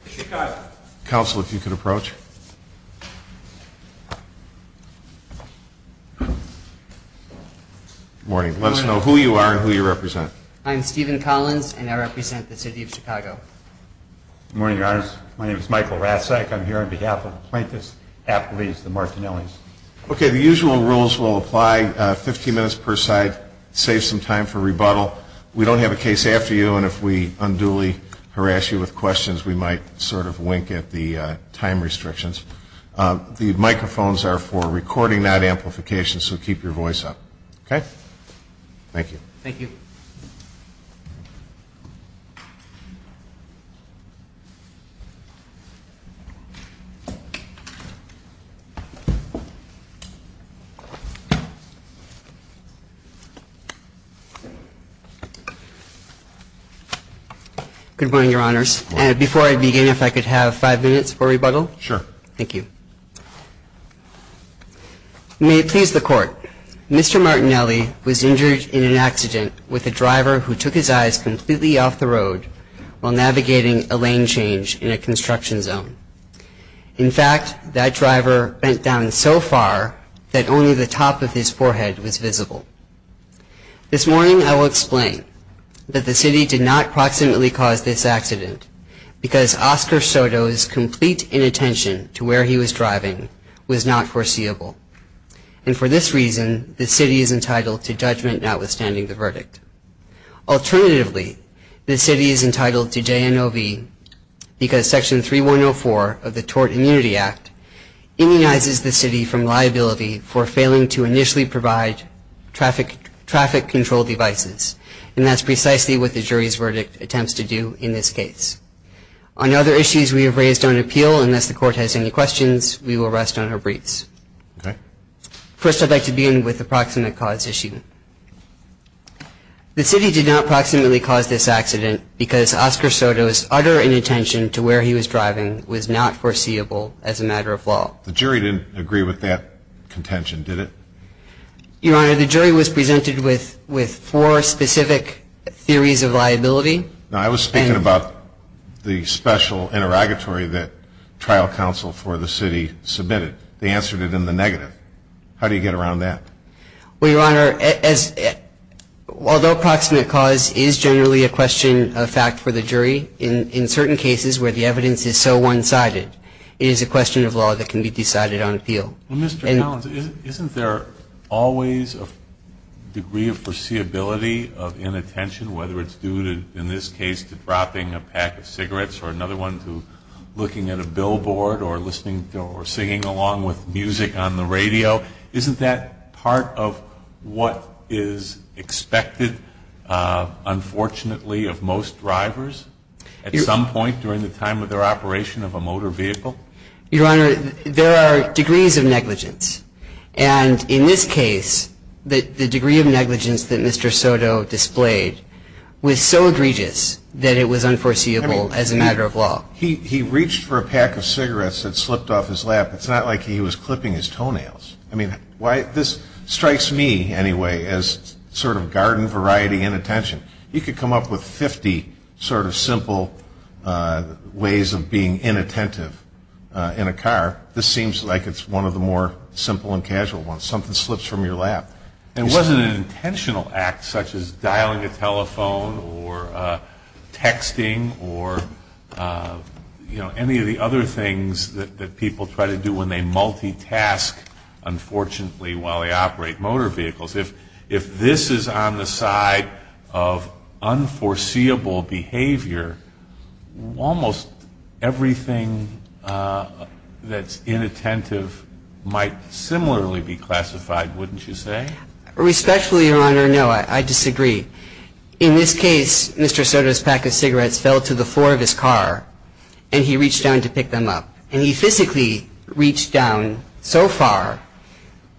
The usual rules will apply, 15 minutes per side, save some time for rebuttal. We don't have a case after you, and if we unduly harass you with questions, we might not be able to get to you. The microphones are for recording, not amplification, so keep your voice up. Okay? Thank you. Thank you. Good morning, Your Honors. Before I begin, if I could have five minutes for rebuttal? Sure. Thank you. May it please the Court, Mr. Martinelli was injured in an accident with a driver who took his eyes completely off the road while navigating a lane change in a construction zone. In fact, that driver bent down so far that only the top of his forehead was visible. This morning, I will explain that the City did not proximately cause this accident because Oscar Soto's complete inattention to where he was driving was not foreseeable. And for this reason, the City is entitled to judgment notwithstanding the verdict. Alternatively, the City is entitled to JNOV because Section 3104 of the Tort Immunity Act immunizes the City from liability for failing to initially provide traffic control devices. And that's precisely what the jury's verdict attempts to do in this case. On other issues we have raised on appeal, unless the Court has any questions, we will rest on our briefs. First, I'd like to begin with the proximate cause issue. The City did not proximately cause this accident because Oscar Soto's utter inattention to where he was driving was not foreseeable as a matter of law. The jury didn't agree with that contention, did it? Your Honor, the jury was presented with four specific theories of liability. Now, I was speaking about the special interrogatory that trial counsel for the City submitted. They answered it in the negative. How do you get around that? Well, Your Honor, although proximate cause is generally a question of fact for the jury, in certain cases where the evidence is so one-sided, it is a question of law that can be decided on appeal. Well, Mr. Collins, isn't there always a degree of foreseeability of inattention, whether it's due to, in this case, to dropping a pack of cigarettes or another one to looking at a billboard or listening to or singing along with music on the radio? Isn't that part of what is expected, unfortunately, of most drivers at some point during the time of their operation of a motor vehicle? Your Honor, there are degrees of negligence. And in this case, the degree of negligence that Mr. Soto displayed was so egregious that it was unforeseeable as a matter of law. He reached for a pack of cigarettes that slipped off his lap. It's not like he was clipping his toenails. I mean, this strikes me anyway as sort of garden variety inattention. You could come up with 50 sort of simple ways of being inattentive in a car. This seems like it's one of the more simple and casual ones. Something slips from your lap. It wasn't an intentional act such as dialing a telephone or texting or, you know, any of the other things that people try to do when they multitask, unfortunately, while they operate motor vehicles. If this is on the side of unforeseeable behavior, almost everything that's inattentive might similarly be classified, wouldn't you say? Respectfully, Your Honor, no. I disagree. In this case, Mr. Soto's pack of cigarettes fell to the floor of his car, and he reached down to pick them up. And he physically reached down so far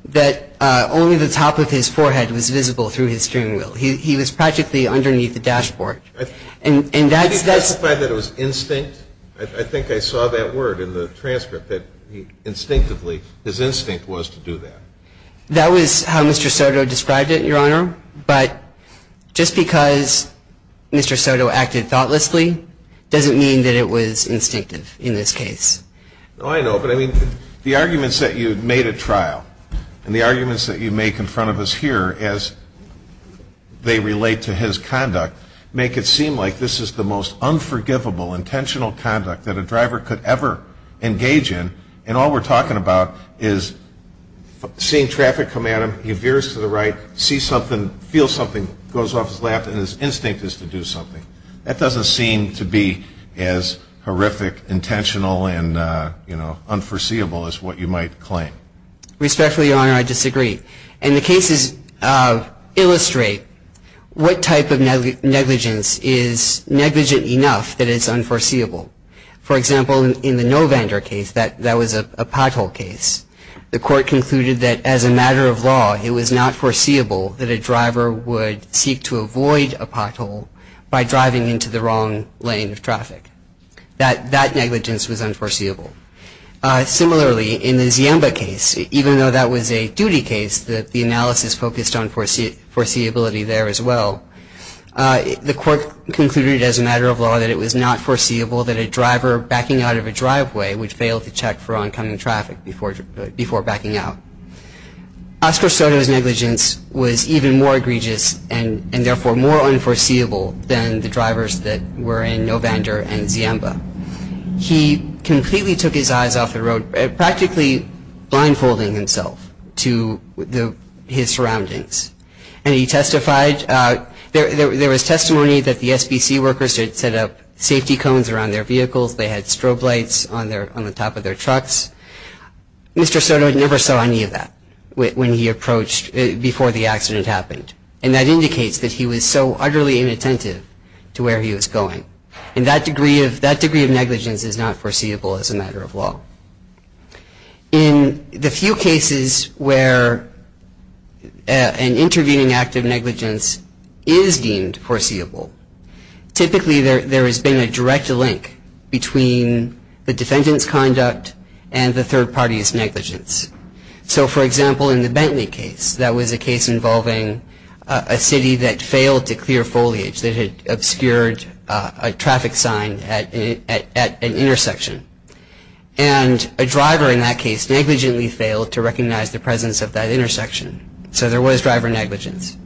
that only the top of his forehead was visible through his steering wheel. He was practically underneath the dashboard. And that's – Did he testify that it was instinct? I think I saw that word in the transcript, that instinctively his instinct was to do that. That was how Mr. Soto described it, Your Honor. But just because Mr. Soto acted thoughtlessly doesn't mean that it was instinctive in this case. No, I know. But, I mean, the arguments that you made at trial and the arguments that you make in front of us here as they relate to his conduct make it seem like this is the most unforgivable intentional conduct that a driver could ever engage in. And all we're talking about is seeing traffic come at him. He veers to the right, sees something, feels something, goes off his lap, and his instinct is to do something. That doesn't seem to be as horrific, intentional, and, you know, unforeseeable as what you might claim. Respectfully, Your Honor, I disagree. And the cases illustrate what type of negligence is negligent enough that it's unforeseeable. For example, in the Novander case, that was a pothole case. The court concluded that, as a matter of law, it was not foreseeable that a driver would seek to avoid a pothole by driving into the wrong lane of traffic. That negligence was unforeseeable. Similarly, in the Ziemba case, even though that was a duty case that the analysis focused on foreseeability there as well, the court concluded, as a matter of law, that it was not foreseeable that a driver backing out of a driveway would fail to check for oncoming traffic before backing out. Oscar Soto's negligence was even more egregious, and therefore more unforeseeable, than the drivers that were in Novander and Ziemba. He completely took his eyes off the road, practically blindfolding himself to his surroundings. And he testified, there was testimony that the SBC workers had set up safety cones around their vehicles, they had strobe lights on the top of their trucks. Mr. Soto never saw any of that when he approached before the accident happened. And that indicates that he was so utterly inattentive to where he was going. And that degree of negligence is not foreseeable as a matter of law. In the few cases where an intervening act of negligence is deemed foreseeable, typically there has been a direct link between the defendant's conduct and the third party's negligence. So, for example, in the Bentley case, that was a case involving a city that failed to clear foliage, that had obscured a traffic sign at an intersection. And a driver in that case negligently failed to recognize the presence of that intersection. So there was driver negligence.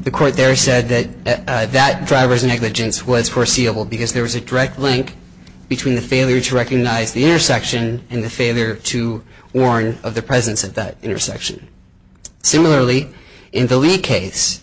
The court there said that that driver's negligence was foreseeable, because there was a direct link between the failure to recognize the intersection and the failure to warn of the presence of that intersection. Similarly, in the Lee case,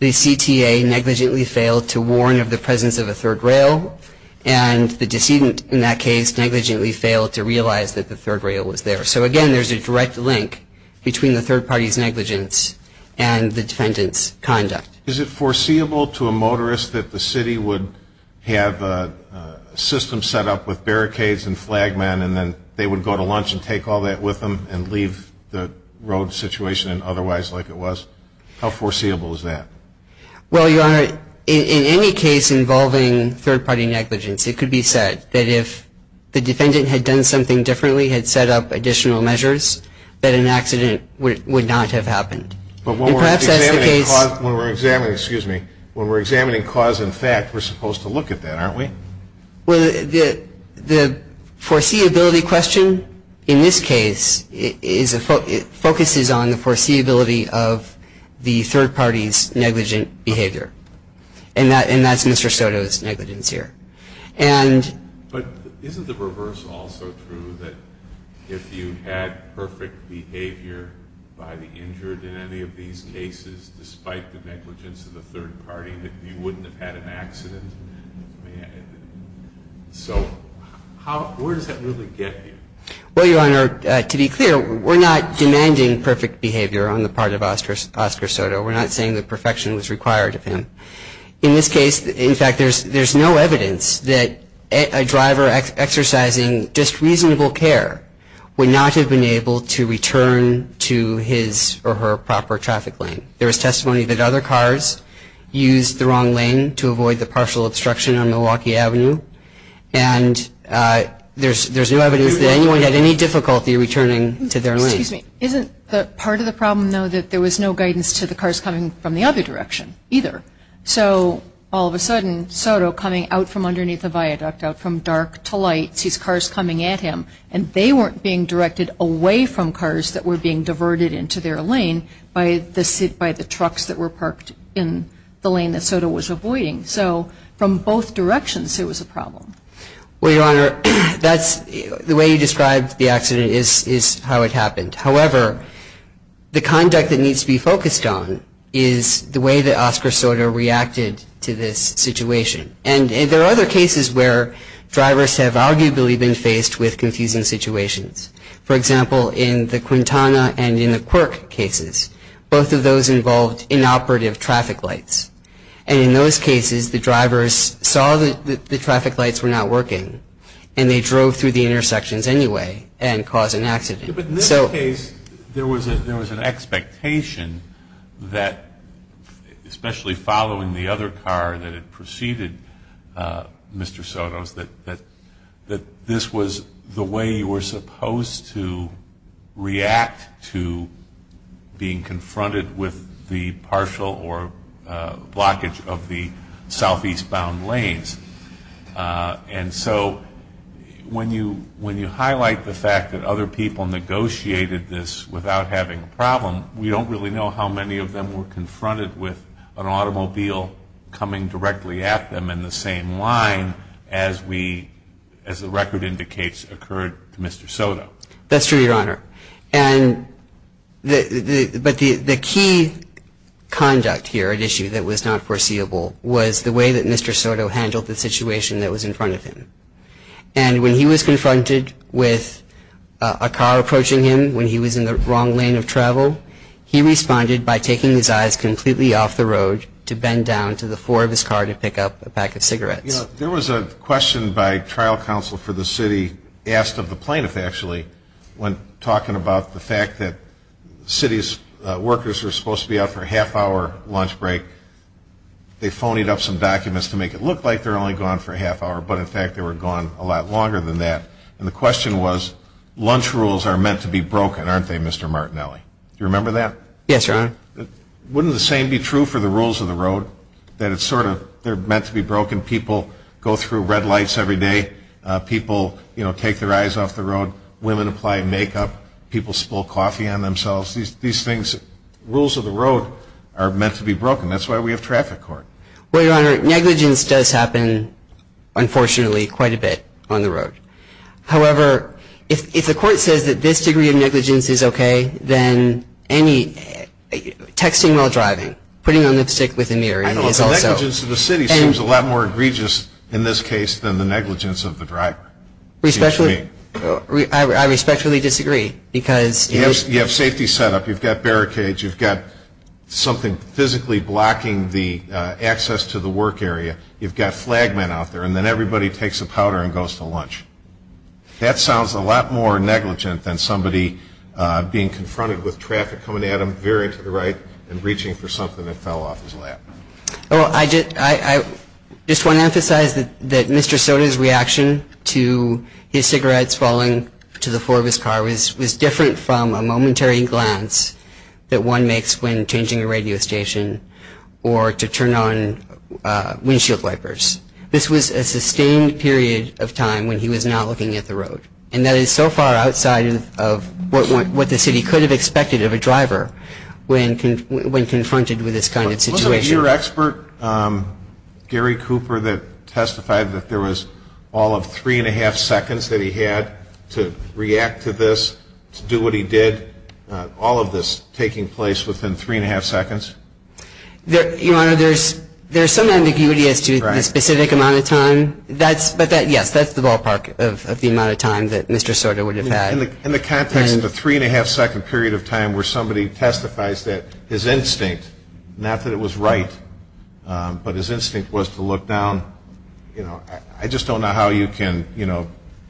the CTA negligently failed to warn of the presence of a third rail, and the decedent in that case negligently failed to realize that the third rail was there. So, again, there's a direct link between the third party's negligence and the defendant's conduct. Is it foreseeable to a motorist that the city would have a system set up with barricades and flag men and then they would go to lunch and take all that with them and leave the road situation otherwise like it was? How foreseeable is that? Well, Your Honor, in any case involving third party negligence, it could be said that if the defendant had done something differently, had set up additional measures, that an accident would not have happened. But when we're examining cause and fact, we're supposed to look at that, aren't we? Well, the foreseeability question in this case focuses on the foreseeability of the third party's negligent behavior. And that's Mr. Soto's negligence here. But isn't the reverse also true, that if you had perfect behavior by the injured in any of these cases, despite the negligence of the third party, that you wouldn't have had an accident? So where does that really get you? Well, Your Honor, to be clear, we're not demanding perfect behavior on the part of Oscar Soto. We're not saying that perfection was required of him. In this case, in fact, there's no evidence that a driver exercising just reasonable care would not have been able to return to his or her proper traffic lane. There is testimony that other cars used the wrong lane to avoid the partial obstruction on Milwaukee Avenue. And there's no evidence that anyone had any difficulty returning to their lane. Excuse me. Isn't part of the problem, though, that there was no guidance to the cars coming from the other direction either? So all of a sudden, Soto coming out from underneath the viaduct, out from dark to light, sees cars coming at him, and they weren't being directed away from cars that were being diverted into their lane by the trucks that were parked in the lane that Soto was avoiding. So from both directions, it was a problem. Well, Your Honor, the way you described the accident is how it happened. However, the conduct that needs to be focused on is the way that Oscar Soto reacted to this situation. And there are other cases where drivers have arguably been faced with confusing situations. For example, in the Quintana and in the Quirk cases, both of those involved inoperative traffic lights. And in those cases, the drivers saw that the traffic lights were not working, and they drove through the intersections anyway and caused an accident. But in this case, there was an expectation that, especially following the other car that had preceded Mr. Soto's, that this was the way you were supposed to react to being confronted with the partial or blockage of the southeast-bound lanes. And so when you highlight the fact that other people negotiated this without having a problem, we don't really know how many of them were confronted with an automobile coming directly at them in the same line as the record indicates occurred to Mr. Soto. That's true, Your Honor. But the key conduct here at issue that was not foreseeable was the way that Mr. Soto handled the situation that was in front of him. And when he was confronted with a car approaching him when he was in the wrong lane of travel, he responded by taking his eyes completely off the road to bend down to the floor of his car to pick up a pack of cigarettes. You know, there was a question by trial counsel for the city asked of the plaintiff, actually, when talking about the fact that the city's workers were supposed to be out for a half-hour lunch break. They phonied up some documents to make it look like they were only gone for a half-hour, but in fact they were gone a lot longer than that. And the question was, lunch rules are meant to be broken, aren't they, Mr. Martinelli? Do you remember that? Yes, Your Honor. Wouldn't the same be true for the rules of the road, that it's sort of they're meant to be broken? People go through red lights every day. People, you know, take their eyes off the road. Women apply makeup. People spill coffee on themselves. These things, rules of the road, are meant to be broken. That's why we have traffic court. Well, Your Honor, negligence does happen, unfortunately, quite a bit on the road. However, if the court says that this degree of negligence is okay, then texting while driving, putting on lipstick within the area is also. The negligence of the city seems a lot more egregious in this case than the negligence of the driver. I respectfully disagree because. You have safety set up. You've got barricades. You've got something physically blocking the access to the work area. You've got flag men out there. And then everybody takes a powder and goes to lunch. That sounds a lot more negligent than somebody being confronted with traffic coming at them very to the right and reaching for something that fell off his lap. Well, I just want to emphasize that Mr. Soda's reaction to his cigarettes falling to the floor of his car was different from a momentary glance that one makes when changing a radio station or to turn on windshield wipers. This was a sustained period of time when he was not looking at the road. And that is so far outside of what the city could have expected of a driver when confronted with this kind of situation. Was it your expert, Gary Cooper, that testified that there was all of three-and-a-half seconds that he had to react to this, to do what he did, all of this taking place within three-and-a-half seconds? Your Honor, there's some ambiguity as to the specific amount of time. But, yes, that's the ballpark of the amount of time that Mr. Soda would have had. In the context of a three-and-a-half second period of time where somebody testifies that his instinct, not that it was right, but his instinct was to look down. I just don't know how you can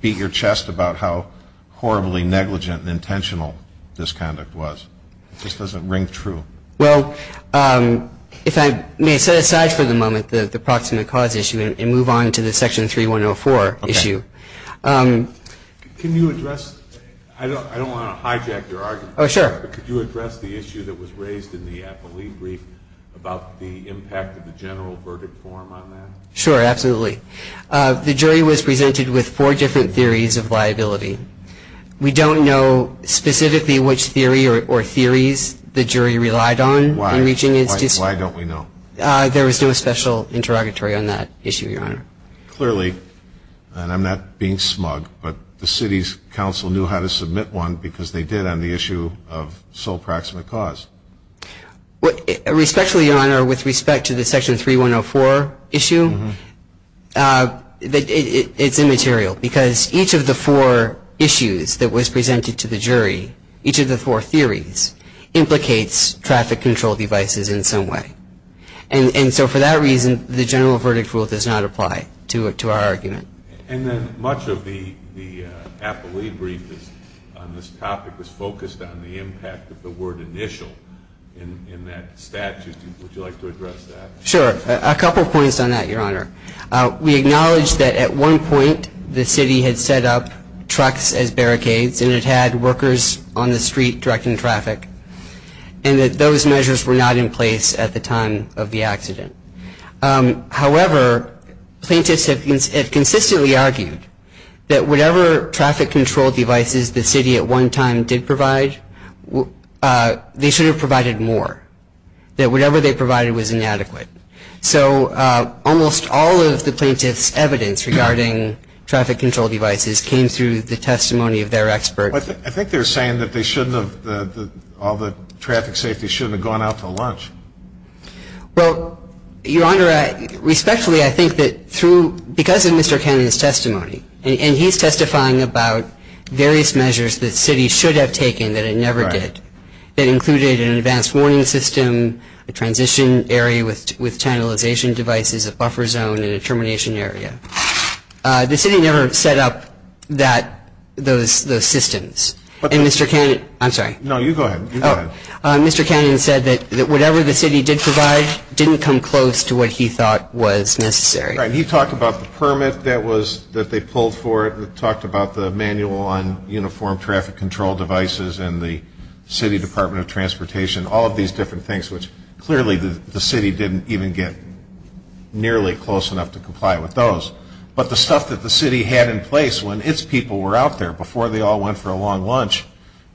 beat your chest about how horribly negligent and intentional this conduct was. It just doesn't ring true. Well, if I may set aside for the moment the proximate cause issue and move on to the Section 3104 issue. Okay. Can you address, I don't want to hijack your argument. Oh, sure. But could you address the issue that was raised in the appellee brief about the impact of the general verdict form on that? Sure, absolutely. The jury was presented with four different theories of liability. We don't know specifically which theory or theories the jury relied on in reaching its decision. Why don't we know? There was no special interrogatory on that issue, Your Honor. Clearly, and I'm not being smug, but the city's council knew how to submit one because they did on the issue of sole proximate cause. Respectfully, Your Honor, with respect to the Section 3104 issue, it's immaterial because each of the four issues that was presented to the jury, each of the four theories, implicates traffic control devices in some way. And so for that reason, the general verdict rule does not apply to our argument. And then much of the appellee brief on this topic was focused on the impact of the word initial in that statute. Would you like to address that? Sure. A couple points on that, Your Honor. We acknowledge that at one point the city had set up trucks as barricades and it had workers on the street directing traffic, and that those measures were not in place at the time of the accident. However, plaintiffs have consistently argued that whatever traffic control devices the city at one time did provide, they should have provided more, that whatever they provided was inadequate. So almost all of the plaintiffs' evidence regarding traffic control devices came through the testimony of their experts. I think they're saying that all the traffic safety shouldn't have gone out for lunch. Well, Your Honor, respectfully, I think that because of Mr. Cannon's testimony, and he's testifying about various measures the city should have taken that it never did, that included an advanced warning system, a transition area with channelization devices, a buffer zone, and a termination area, the city never set up those systems. And Mr. Cannon, I'm sorry. No, you go ahead. Mr. Cannon said that whatever the city did provide didn't come close to what he thought was necessary. Right. He talked about the permit that they pulled for it, talked about the manual on uniform traffic control devices and the city Department of Transportation, all of these different things, which clearly the city didn't even get nearly close enough to comply with those. But the stuff that the city had in place when its people were out there before they all went for a long lunch,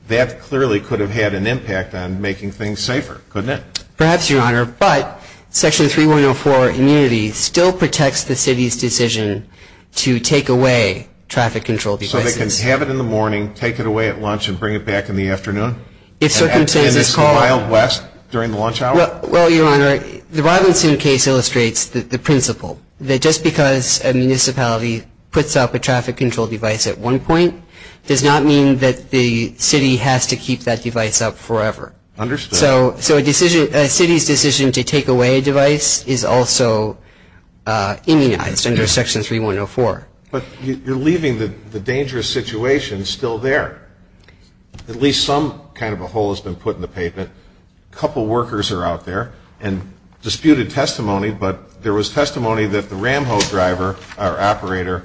that clearly could have had an impact on making things safer, couldn't it? Perhaps, Your Honor. But Section 3104 immunity still protects the city's decision to take away traffic control devices. So they can have it in the morning, take it away at lunch, and bring it back in the afternoon? If circumstances call. In this wild west during the lunch hour? Well, Your Honor, the Robinson case illustrates the principle, that just because a municipality puts up a traffic control device at one point does not mean that the city has to keep that device up forever. Understood. So a city's decision to take away a device is also immunized under Section 3104. But you're leaving the dangerous situation still there. At least some kind of a hole has been put in the pavement. A couple workers are out there and disputed testimony, but there was testimony that the ram hoe driver, our operator,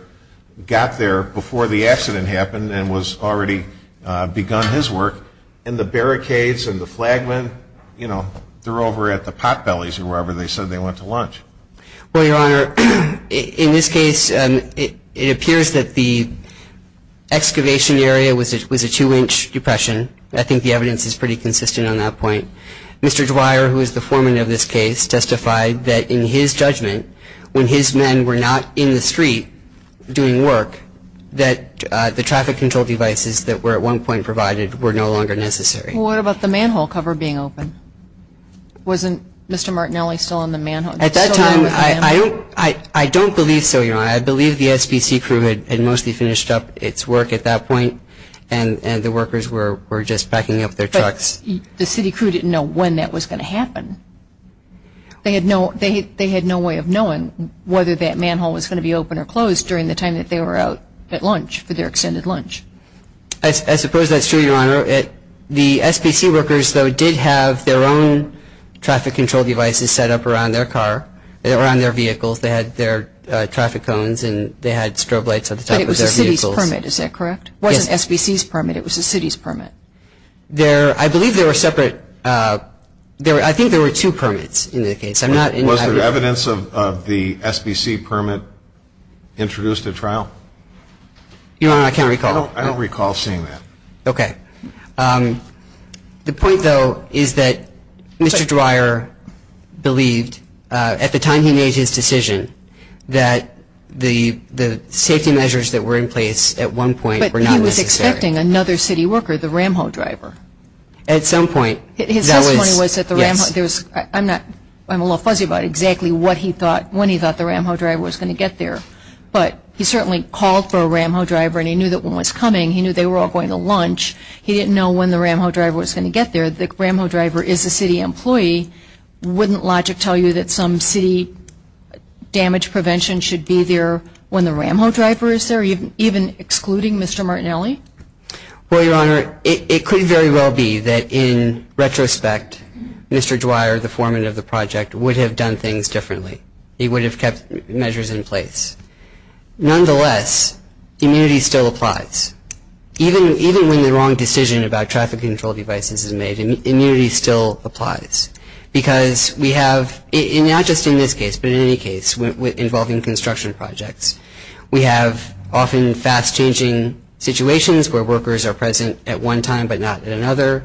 got there before the accident happened and was already begun his work. And the barricades and the flagmen, you know, they're over at the pot bellies or wherever they said they went to lunch. Well, Your Honor, in this case, it appears that the excavation area was a two-inch depression. I think the evidence is pretty consistent on that point. Mr. Dwyer, who is the foreman of this case, testified that in his judgment, when his men were not in the street doing work, that the traffic control devices that were at one point provided were no longer necessary. Well, what about the manhole cover being open? Wasn't Mr. Martinelli still on the manhole? At that time, I don't believe so, Your Honor. I believe the SBC crew had mostly finished up its work at that point and the workers were just packing up their trucks. The city crew didn't know when that was going to happen. They had no way of knowing whether that manhole was going to be open or closed during the time that they were out at lunch, for their extended lunch. I suppose that's true, Your Honor. The SBC workers, though, did have their own traffic control devices set up around their car, around their vehicles. They had their traffic cones and they had strobe lights at the top of their vehicles. But it was a city's permit, is that correct? Yes. It wasn't SBC's permit. It was a city's permit. I believe there were separate – I think there were two permits in the case. Was there evidence of the SBC permit introduced at trial? Your Honor, I can't recall. I don't recall seeing that. Okay. The point, though, is that Mr. Dreyer believed, at the time he made his decision, that the safety measures that were in place at one point were not necessary. He was expecting another city worker, the Ramho driver. At some point, that was – His testimony was that the Ramho – I'm a little fuzzy about exactly what he thought, when he thought the Ramho driver was going to get there. But he certainly called for a Ramho driver and he knew that one was coming. He knew they were all going to lunch. He didn't know when the Ramho driver was going to get there. The Ramho driver is a city employee. Wouldn't logic tell you that some city damage prevention should be there when the Ramho driver is there, even excluding Mr. Martinelli? Well, Your Honor, it could very well be that, in retrospect, Mr. Dreyer, the foreman of the project, would have done things differently. He would have kept measures in place. Nonetheless, immunity still applies. Even when the wrong decision about traffic control devices is made, immunity still applies because we have – We have often fast-changing situations where workers are present at one time but not at another.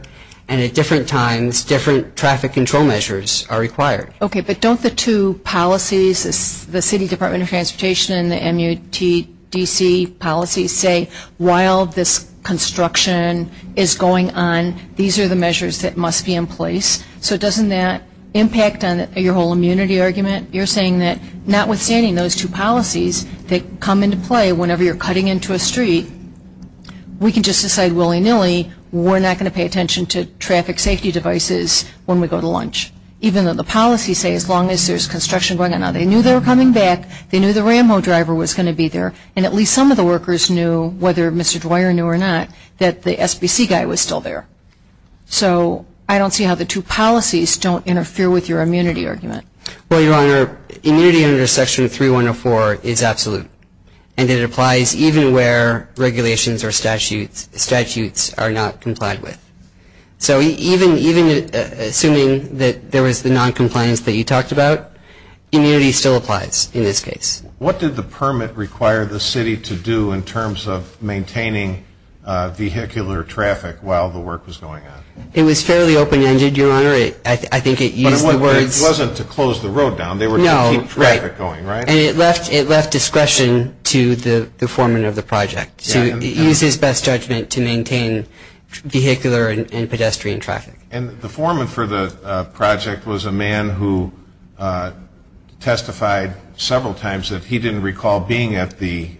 And at different times, different traffic control measures are required. Okay, but don't the two policies, the City Department of Transportation and the MUTDC policies say, while this construction is going on, these are the measures that must be in place? So doesn't that impact on your whole immunity argument? You're saying that notwithstanding those two policies that come into play whenever you're cutting into a street, we can just decide willy-nilly we're not going to pay attention to traffic safety devices when we go to lunch, even though the policies say as long as there's construction going on. Now, they knew they were coming back. They knew the Ramho driver was going to be there. And at least some of the workers knew, whether Mr. Dreyer knew or not, that the SBC guy was still there. So I don't see how the two policies don't interfere with your immunity argument. Well, Your Honor, immunity under Section 3104 is absolute. And it applies even where regulations or statutes are not complied with. So even assuming that there was the noncompliance that you talked about, immunity still applies in this case. What did the permit require the city to do in terms of maintaining vehicular traffic while the work was going on? It was fairly open-ended, Your Honor. But it wasn't to close the road down. They were to keep traffic going, right? And it left discretion to the foreman of the project to use his best judgment to maintain vehicular and pedestrian traffic. And the foreman for the project was a man who testified several times that he didn't recall being at the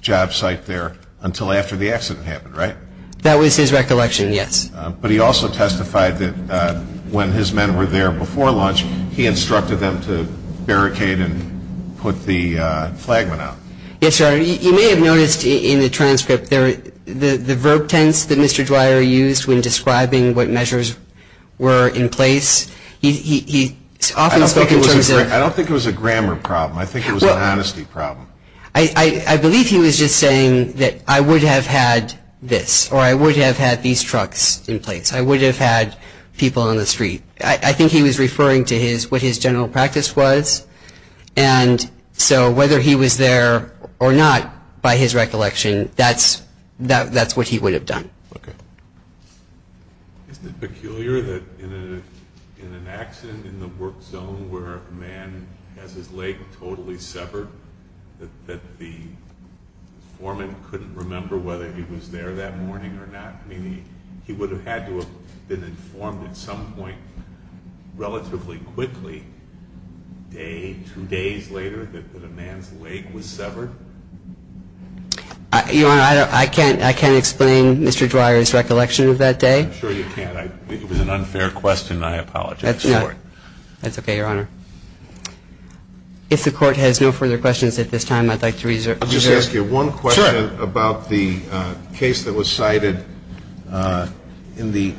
job site there until after the accident happened, right? That was his recollection, yes. But he also testified that when his men were there before lunch, he instructed them to barricade and put the flagman out. Yes, Your Honor, you may have noticed in the transcript the verb tense that Mr. Dwyer used when describing what measures were in place. He often spoke in terms of – I don't think it was a grammar problem. I think it was an honesty problem. I believe he was just saying that I would have had this or I would have had these trucks in place. I would have had people on the street. I think he was referring to what his general practice was. And so whether he was there or not, by his recollection, that's what he would have done. Okay. Isn't it peculiar that in an accident in the work zone where a man has his leg totally severed, that the foreman couldn't remember whether he was there that morning or not? Meaning he would have had to have been informed at some point relatively quickly, a day, two days later, that a man's leg was severed? Your Honor, I can't explain Mr. Dwyer's recollection of that day. I'm sure you can. It was an unfair question. I apologize for it. That's okay, Your Honor. If the Court has no further questions at this time, I'd like to reserve. I'll just ask you one question. Sure. About the case that was cited in the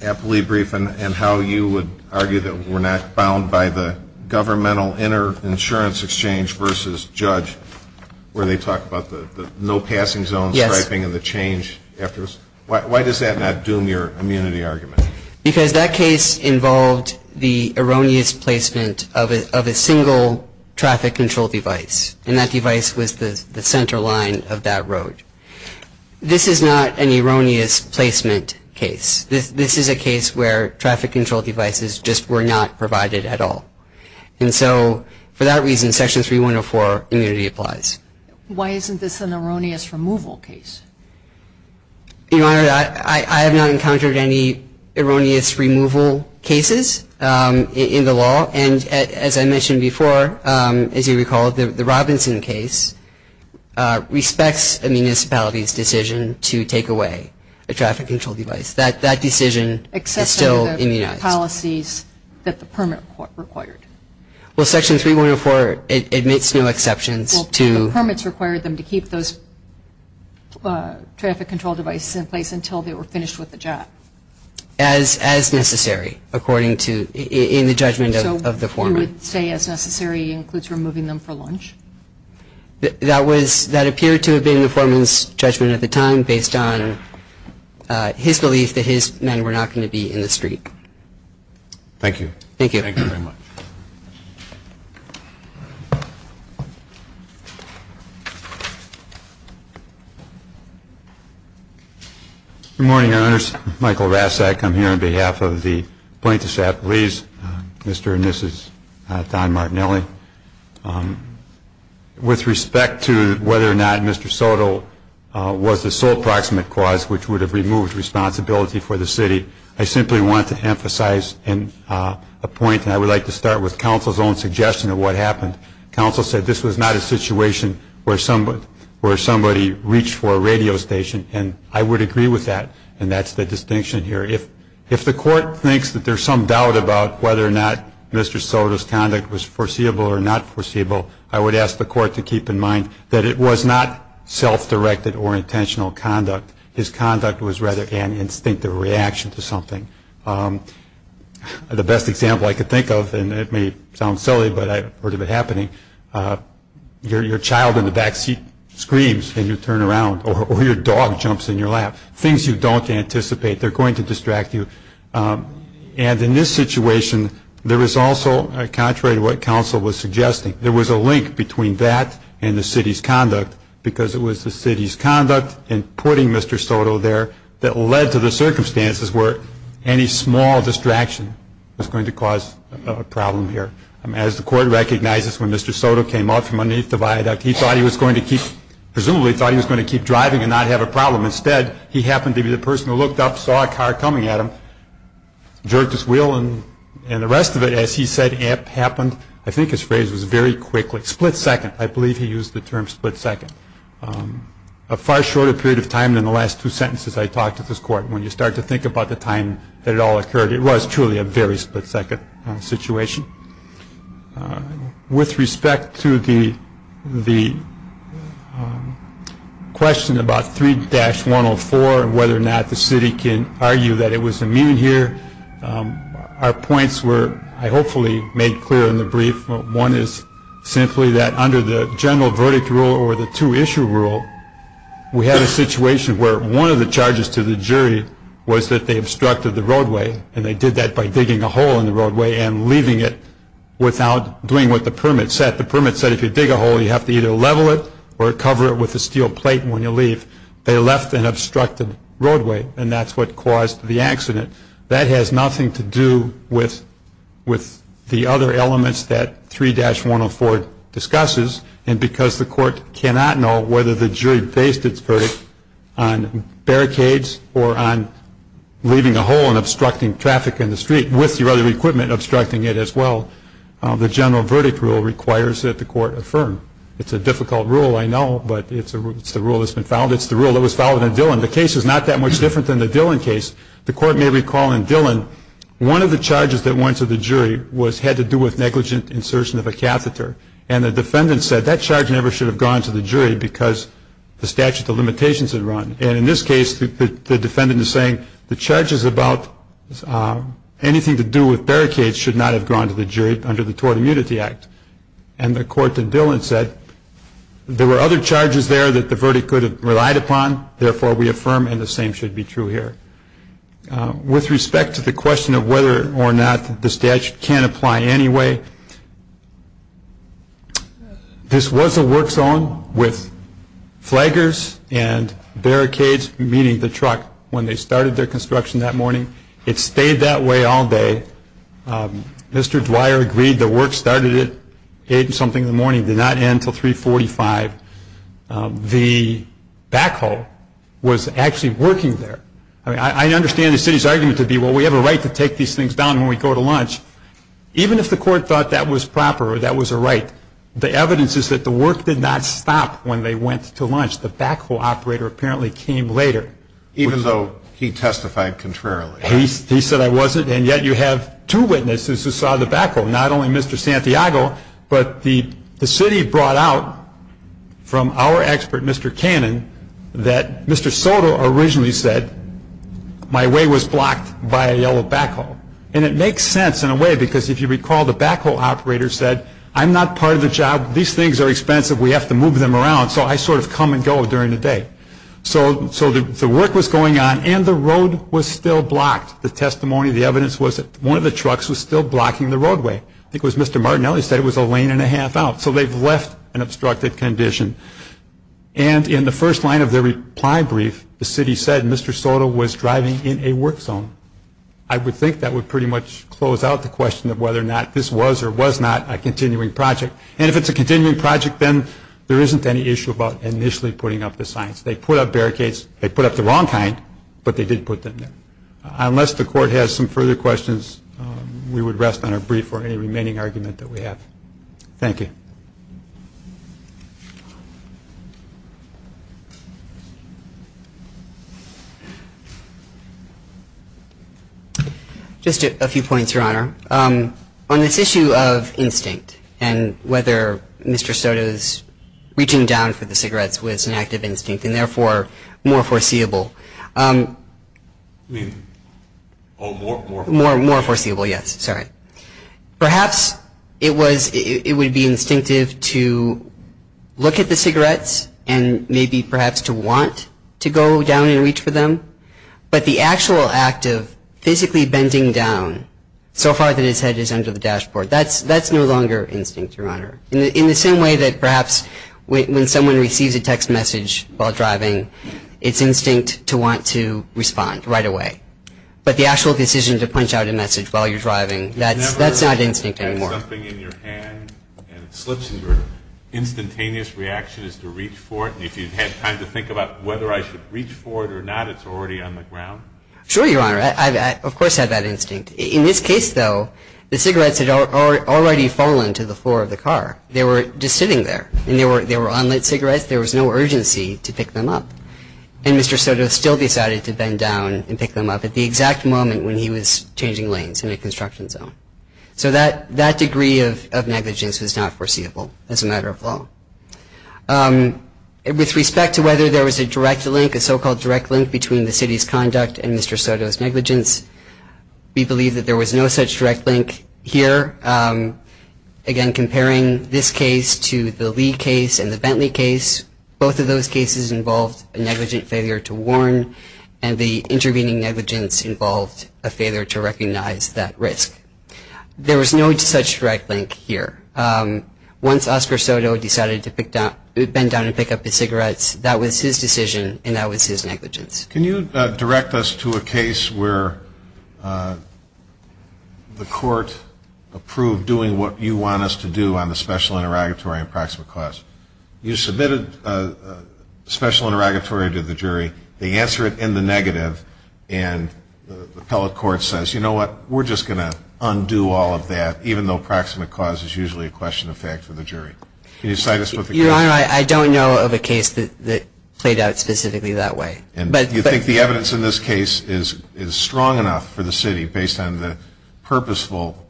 Appley brief and how you would argue that we're not bound by the governmental inter-insurance exchange versus judge where they talk about the no-passing zone striping and the change afterwards. Why does that not doom your immunity argument? Because that case involved the erroneous placement of a single traffic control device, and that device was the center line of that road. This is not an erroneous placement case. This is a case where traffic control devices just were not provided at all. And so for that reason, Section 3104 immunity applies. Why isn't this an erroneous removal case? Your Honor, I have not encountered any erroneous removal cases in the law. And as I mentioned before, as you recall, the Robinson case respects a municipality's decision to take away a traffic control device. That decision is still immunized. Except under the policies that the permit required. Well, Section 3104 admits no exceptions to the permits. And that's why it was required them to keep those traffic control devices in place until they were finished with the job. As necessary, according to the judgment of the foreman. And so you would say as necessary includes removing them for lunch? That appeared to have been the foreman's judgment at the time based on his belief that his men were not going to be in the street. Thank you. Thank you. Thank you very much. Good morning, Your Honors. Michael Rasak. I'm here on behalf of the plaintiffs' appellees. Mr. and Mrs. Don Martinelli. With respect to whether or not Mr. Soto was the sole proximate cause which would have removed responsibility for the city, I simply want to emphasize a point. And I would like to start with counsel's own suggestion of what happened. Counsel said this was not a situation where somebody reached for a radio station. And I would agree with that. And that's the distinction here. If the court thinks that there's some doubt about whether or not Mr. Soto's conduct was foreseeable or not foreseeable, I would ask the court to keep in mind that it was not self-directed or intentional conduct. His conduct was rather an instinctive reaction to something. The best example I could think of, and it may sound silly, but I've heard of it happening, your child in the backseat screams and you turn around, or your dog jumps in your lap, things you don't anticipate, they're going to distract you. And in this situation, there is also, contrary to what counsel was suggesting, there was a link between that and the city's conduct, because it was the city's conduct in putting Mr. Soto there that led to the circumstances where any small distraction was going to cause a problem here. As the court recognizes, when Mr. Soto came out from underneath the viaduct, he thought he was going to keep, presumably thought he was going to keep driving and not have a problem. Instead, he happened to be the person who looked up, saw a car coming at him, jerked his wheel, and the rest of it, as he said, happened, I think his phrase was very quickly, split second. I believe he used the term split second. A far shorter period of time than the last two sentences I talked to this court. When you start to think about the time that it all occurred, it was truly a very split second situation. With respect to the question about 3-104 and whether or not the city can argue that it was immune here, our points were, I hopefully made clear in the brief, one is simply that under the general verdict rule or the two-issue rule, we had a situation where one of the charges to the jury was that they obstructed the roadway and they did that by digging a hole in the roadway and leaving it without doing what the permit said. The permit said if you dig a hole, you have to either level it or cover it with a steel plate when you leave. They left an obstructed roadway and that's what caused the accident. That has nothing to do with the other elements that 3-104 discusses and because the court cannot know whether the jury based its verdict on barricades or on leaving a hole and obstructing traffic in the street with your other equipment obstructing it as well, the general verdict rule requires that the court affirm. It's a difficult rule, I know, but it's the rule that's been followed. It's the rule that was followed in Dillon. The case is not that much different than the Dillon case. The court may recall in Dillon one of the charges that went to the jury had to do with negligent insertion of a catheter and the defendant said that charge never should have gone to the jury because the statute of limitations had run and in this case the defendant is saying the charges about anything to do with barricades should not have gone to the jury under the Tort Immunity Act and the court in Dillon said there were other charges there that the verdict could have relied upon, therefore we affirm and the same should be true here. With respect to the question of whether or not the statute can apply anyway, this was a work zone with flaggers and barricades, meaning the truck, when they started their construction that morning. It stayed that way all day. Mr. Dwyer agreed the work started at 8 something in the morning, did not end until 345. The backhoe was actually working there. I understand the city's argument to be well we have a right to take these things down when we go to lunch. Even if the court thought that was proper or that was a right, the evidence is that the work did not stop when they went to lunch. The backhoe operator apparently came later. Even though he testified contrarily. He said I wasn't and yet you have two witnesses who saw the backhoe, not only Mr. Santiago, but the city brought out from our expert Mr. Cannon that Mr. Soto originally said my way was blocked by a yellow backhoe. And it makes sense in a way because if you recall the backhoe operator said I'm not part of the job. These things are expensive. We have to move them around. So I sort of come and go during the day. So the work was going on and the road was still blocked. The testimony, the evidence was that one of the trucks was still blocking the roadway. I think it was Mr. Martinelli said it was a lane and a half out. So they've left an obstructed condition. And in the first line of their reply brief, the city said Mr. Soto was driving in a work zone. I would think that would pretty much close out the question of whether or not this was or was not a continuing project. And if it's a continuing project, then there isn't any issue about initially putting up the signs. They put up barricades. They put up the wrong kind, but they did put them there. Unless the court has some further questions, we would rest on our brief for any remaining argument that we have. Thank you. Just a few points, Your Honor. On this issue of instinct and whether Mr. Soto's reaching down for the cigarettes was an act of instinct and therefore more foreseeable. More foreseeable, yes. Sorry. Perhaps it would be instinctive to look at the cigarettes and maybe perhaps to want to go down and reach for them. But the actual act of physically bending down so far that his head is under the dashboard, that's no longer instinct, Your Honor. In the same way that perhaps when someone receives a text message while driving, it's instinct to want to respond right away. But the actual decision to punch out a message while you're driving, that's not instinct anymore. Have you ever had something in your hand and it slips and your instantaneous reaction is to reach for it and if you've had time to think about whether I should reach for it or not, it's already on the ground? Sure, Your Honor. I've of course had that instinct. In this case, though, the cigarettes had already fallen to the floor of the car. They were just sitting there and they were unlit cigarettes. There was no urgency to pick them up. And Mr. Soto still decided to bend down and pick them up at the exact moment when he was changing lanes in a construction zone. So that degree of negligence was not foreseeable as a matter of law. With respect to whether there was a direct link, a so-called direct link, between the city's conduct and Mr. Soto's negligence, we believe that there was no such direct link here. Again, comparing this case to the Lee case and the Bentley case, both of those cases involved a negligent failure to warn and the intervening negligence involved a failure to recognize that risk. There was no such direct link here. Once Oscar Soto decided to bend down and pick up his cigarettes, that was his decision and that was his negligence. Can you direct us to a case where the court approved doing what you want us to do on the special interrogatory and proximate cause? You submitted a special interrogatory to the jury. They answer it in the negative and the appellate court says, you know what, we're just going to undo all of that, even though proximate cause is usually a question of fact for the jury. Can you cite us with the case? Your Honor, I don't know of a case that played out specifically that way. Do you think the evidence in this case is strong enough for the city, based on the purposeful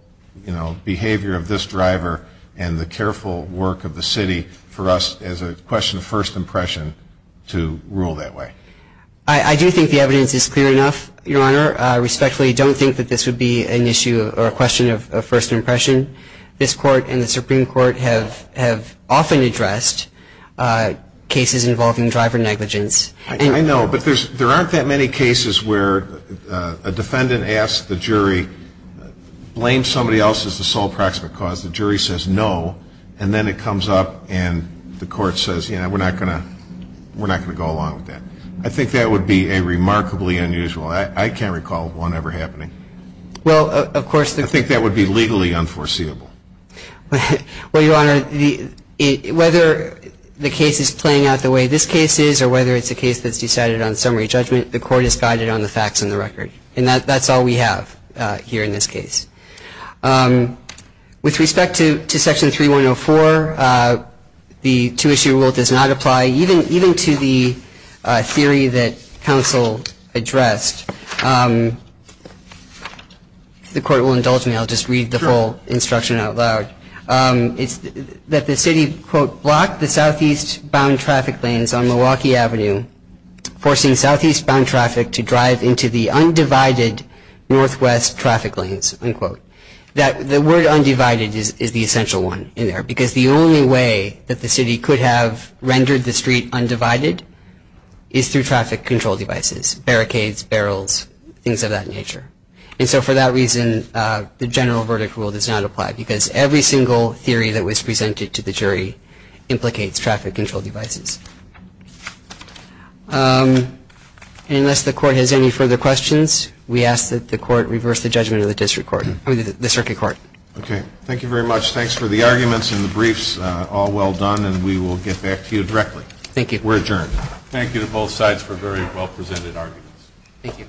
behavior of this driver and the careful work of the city, for us as a question of first impression to rule that way? I do think the evidence is clear enough, Your Honor. I respectfully don't think that this would be an issue or a question of first impression. This Court and the Supreme Court have often addressed cases involving driver negligence. I know, but there aren't that many cases where a defendant asks the jury, blames somebody else as the sole proximate cause, the jury says no, and then it comes up and the court says, you know, we're not going to go along with that. I think that would be remarkably unusual. I can't recall one ever happening. Well, of course. I think that would be legally unforeseeable. Well, Your Honor, whether the case is playing out the way this case is or whether it's a case that's decided on summary judgment, the Court is guided on the facts and the record. And that's all we have here in this case. With respect to Section 3104, the two-issue rule does not apply, even to the theory that counsel addressed. If the Court will indulge me, I'll just read the full instruction out loud. It's that the city, quote, blocked the southeast-bound traffic lanes on Milwaukee Avenue, forcing southeast-bound traffic to drive into the undivided northwest traffic lanes, unquote. Because the only way that the city could have rendered the street undivided is through traffic control devices, barricades, barrels, things of that nature. And so for that reason, the general verdict rule does not apply because every single theory that was presented to the jury implicates traffic control devices. Unless the Court has any further questions, we ask that the Court reverse the judgment of the Circuit Court. Okay. Thank you very much. Thanks for the arguments and the briefs. All well done, and we will get back to you directly. Thank you. We're adjourned. Thank you to both sides for very well-presented arguments. Thank you.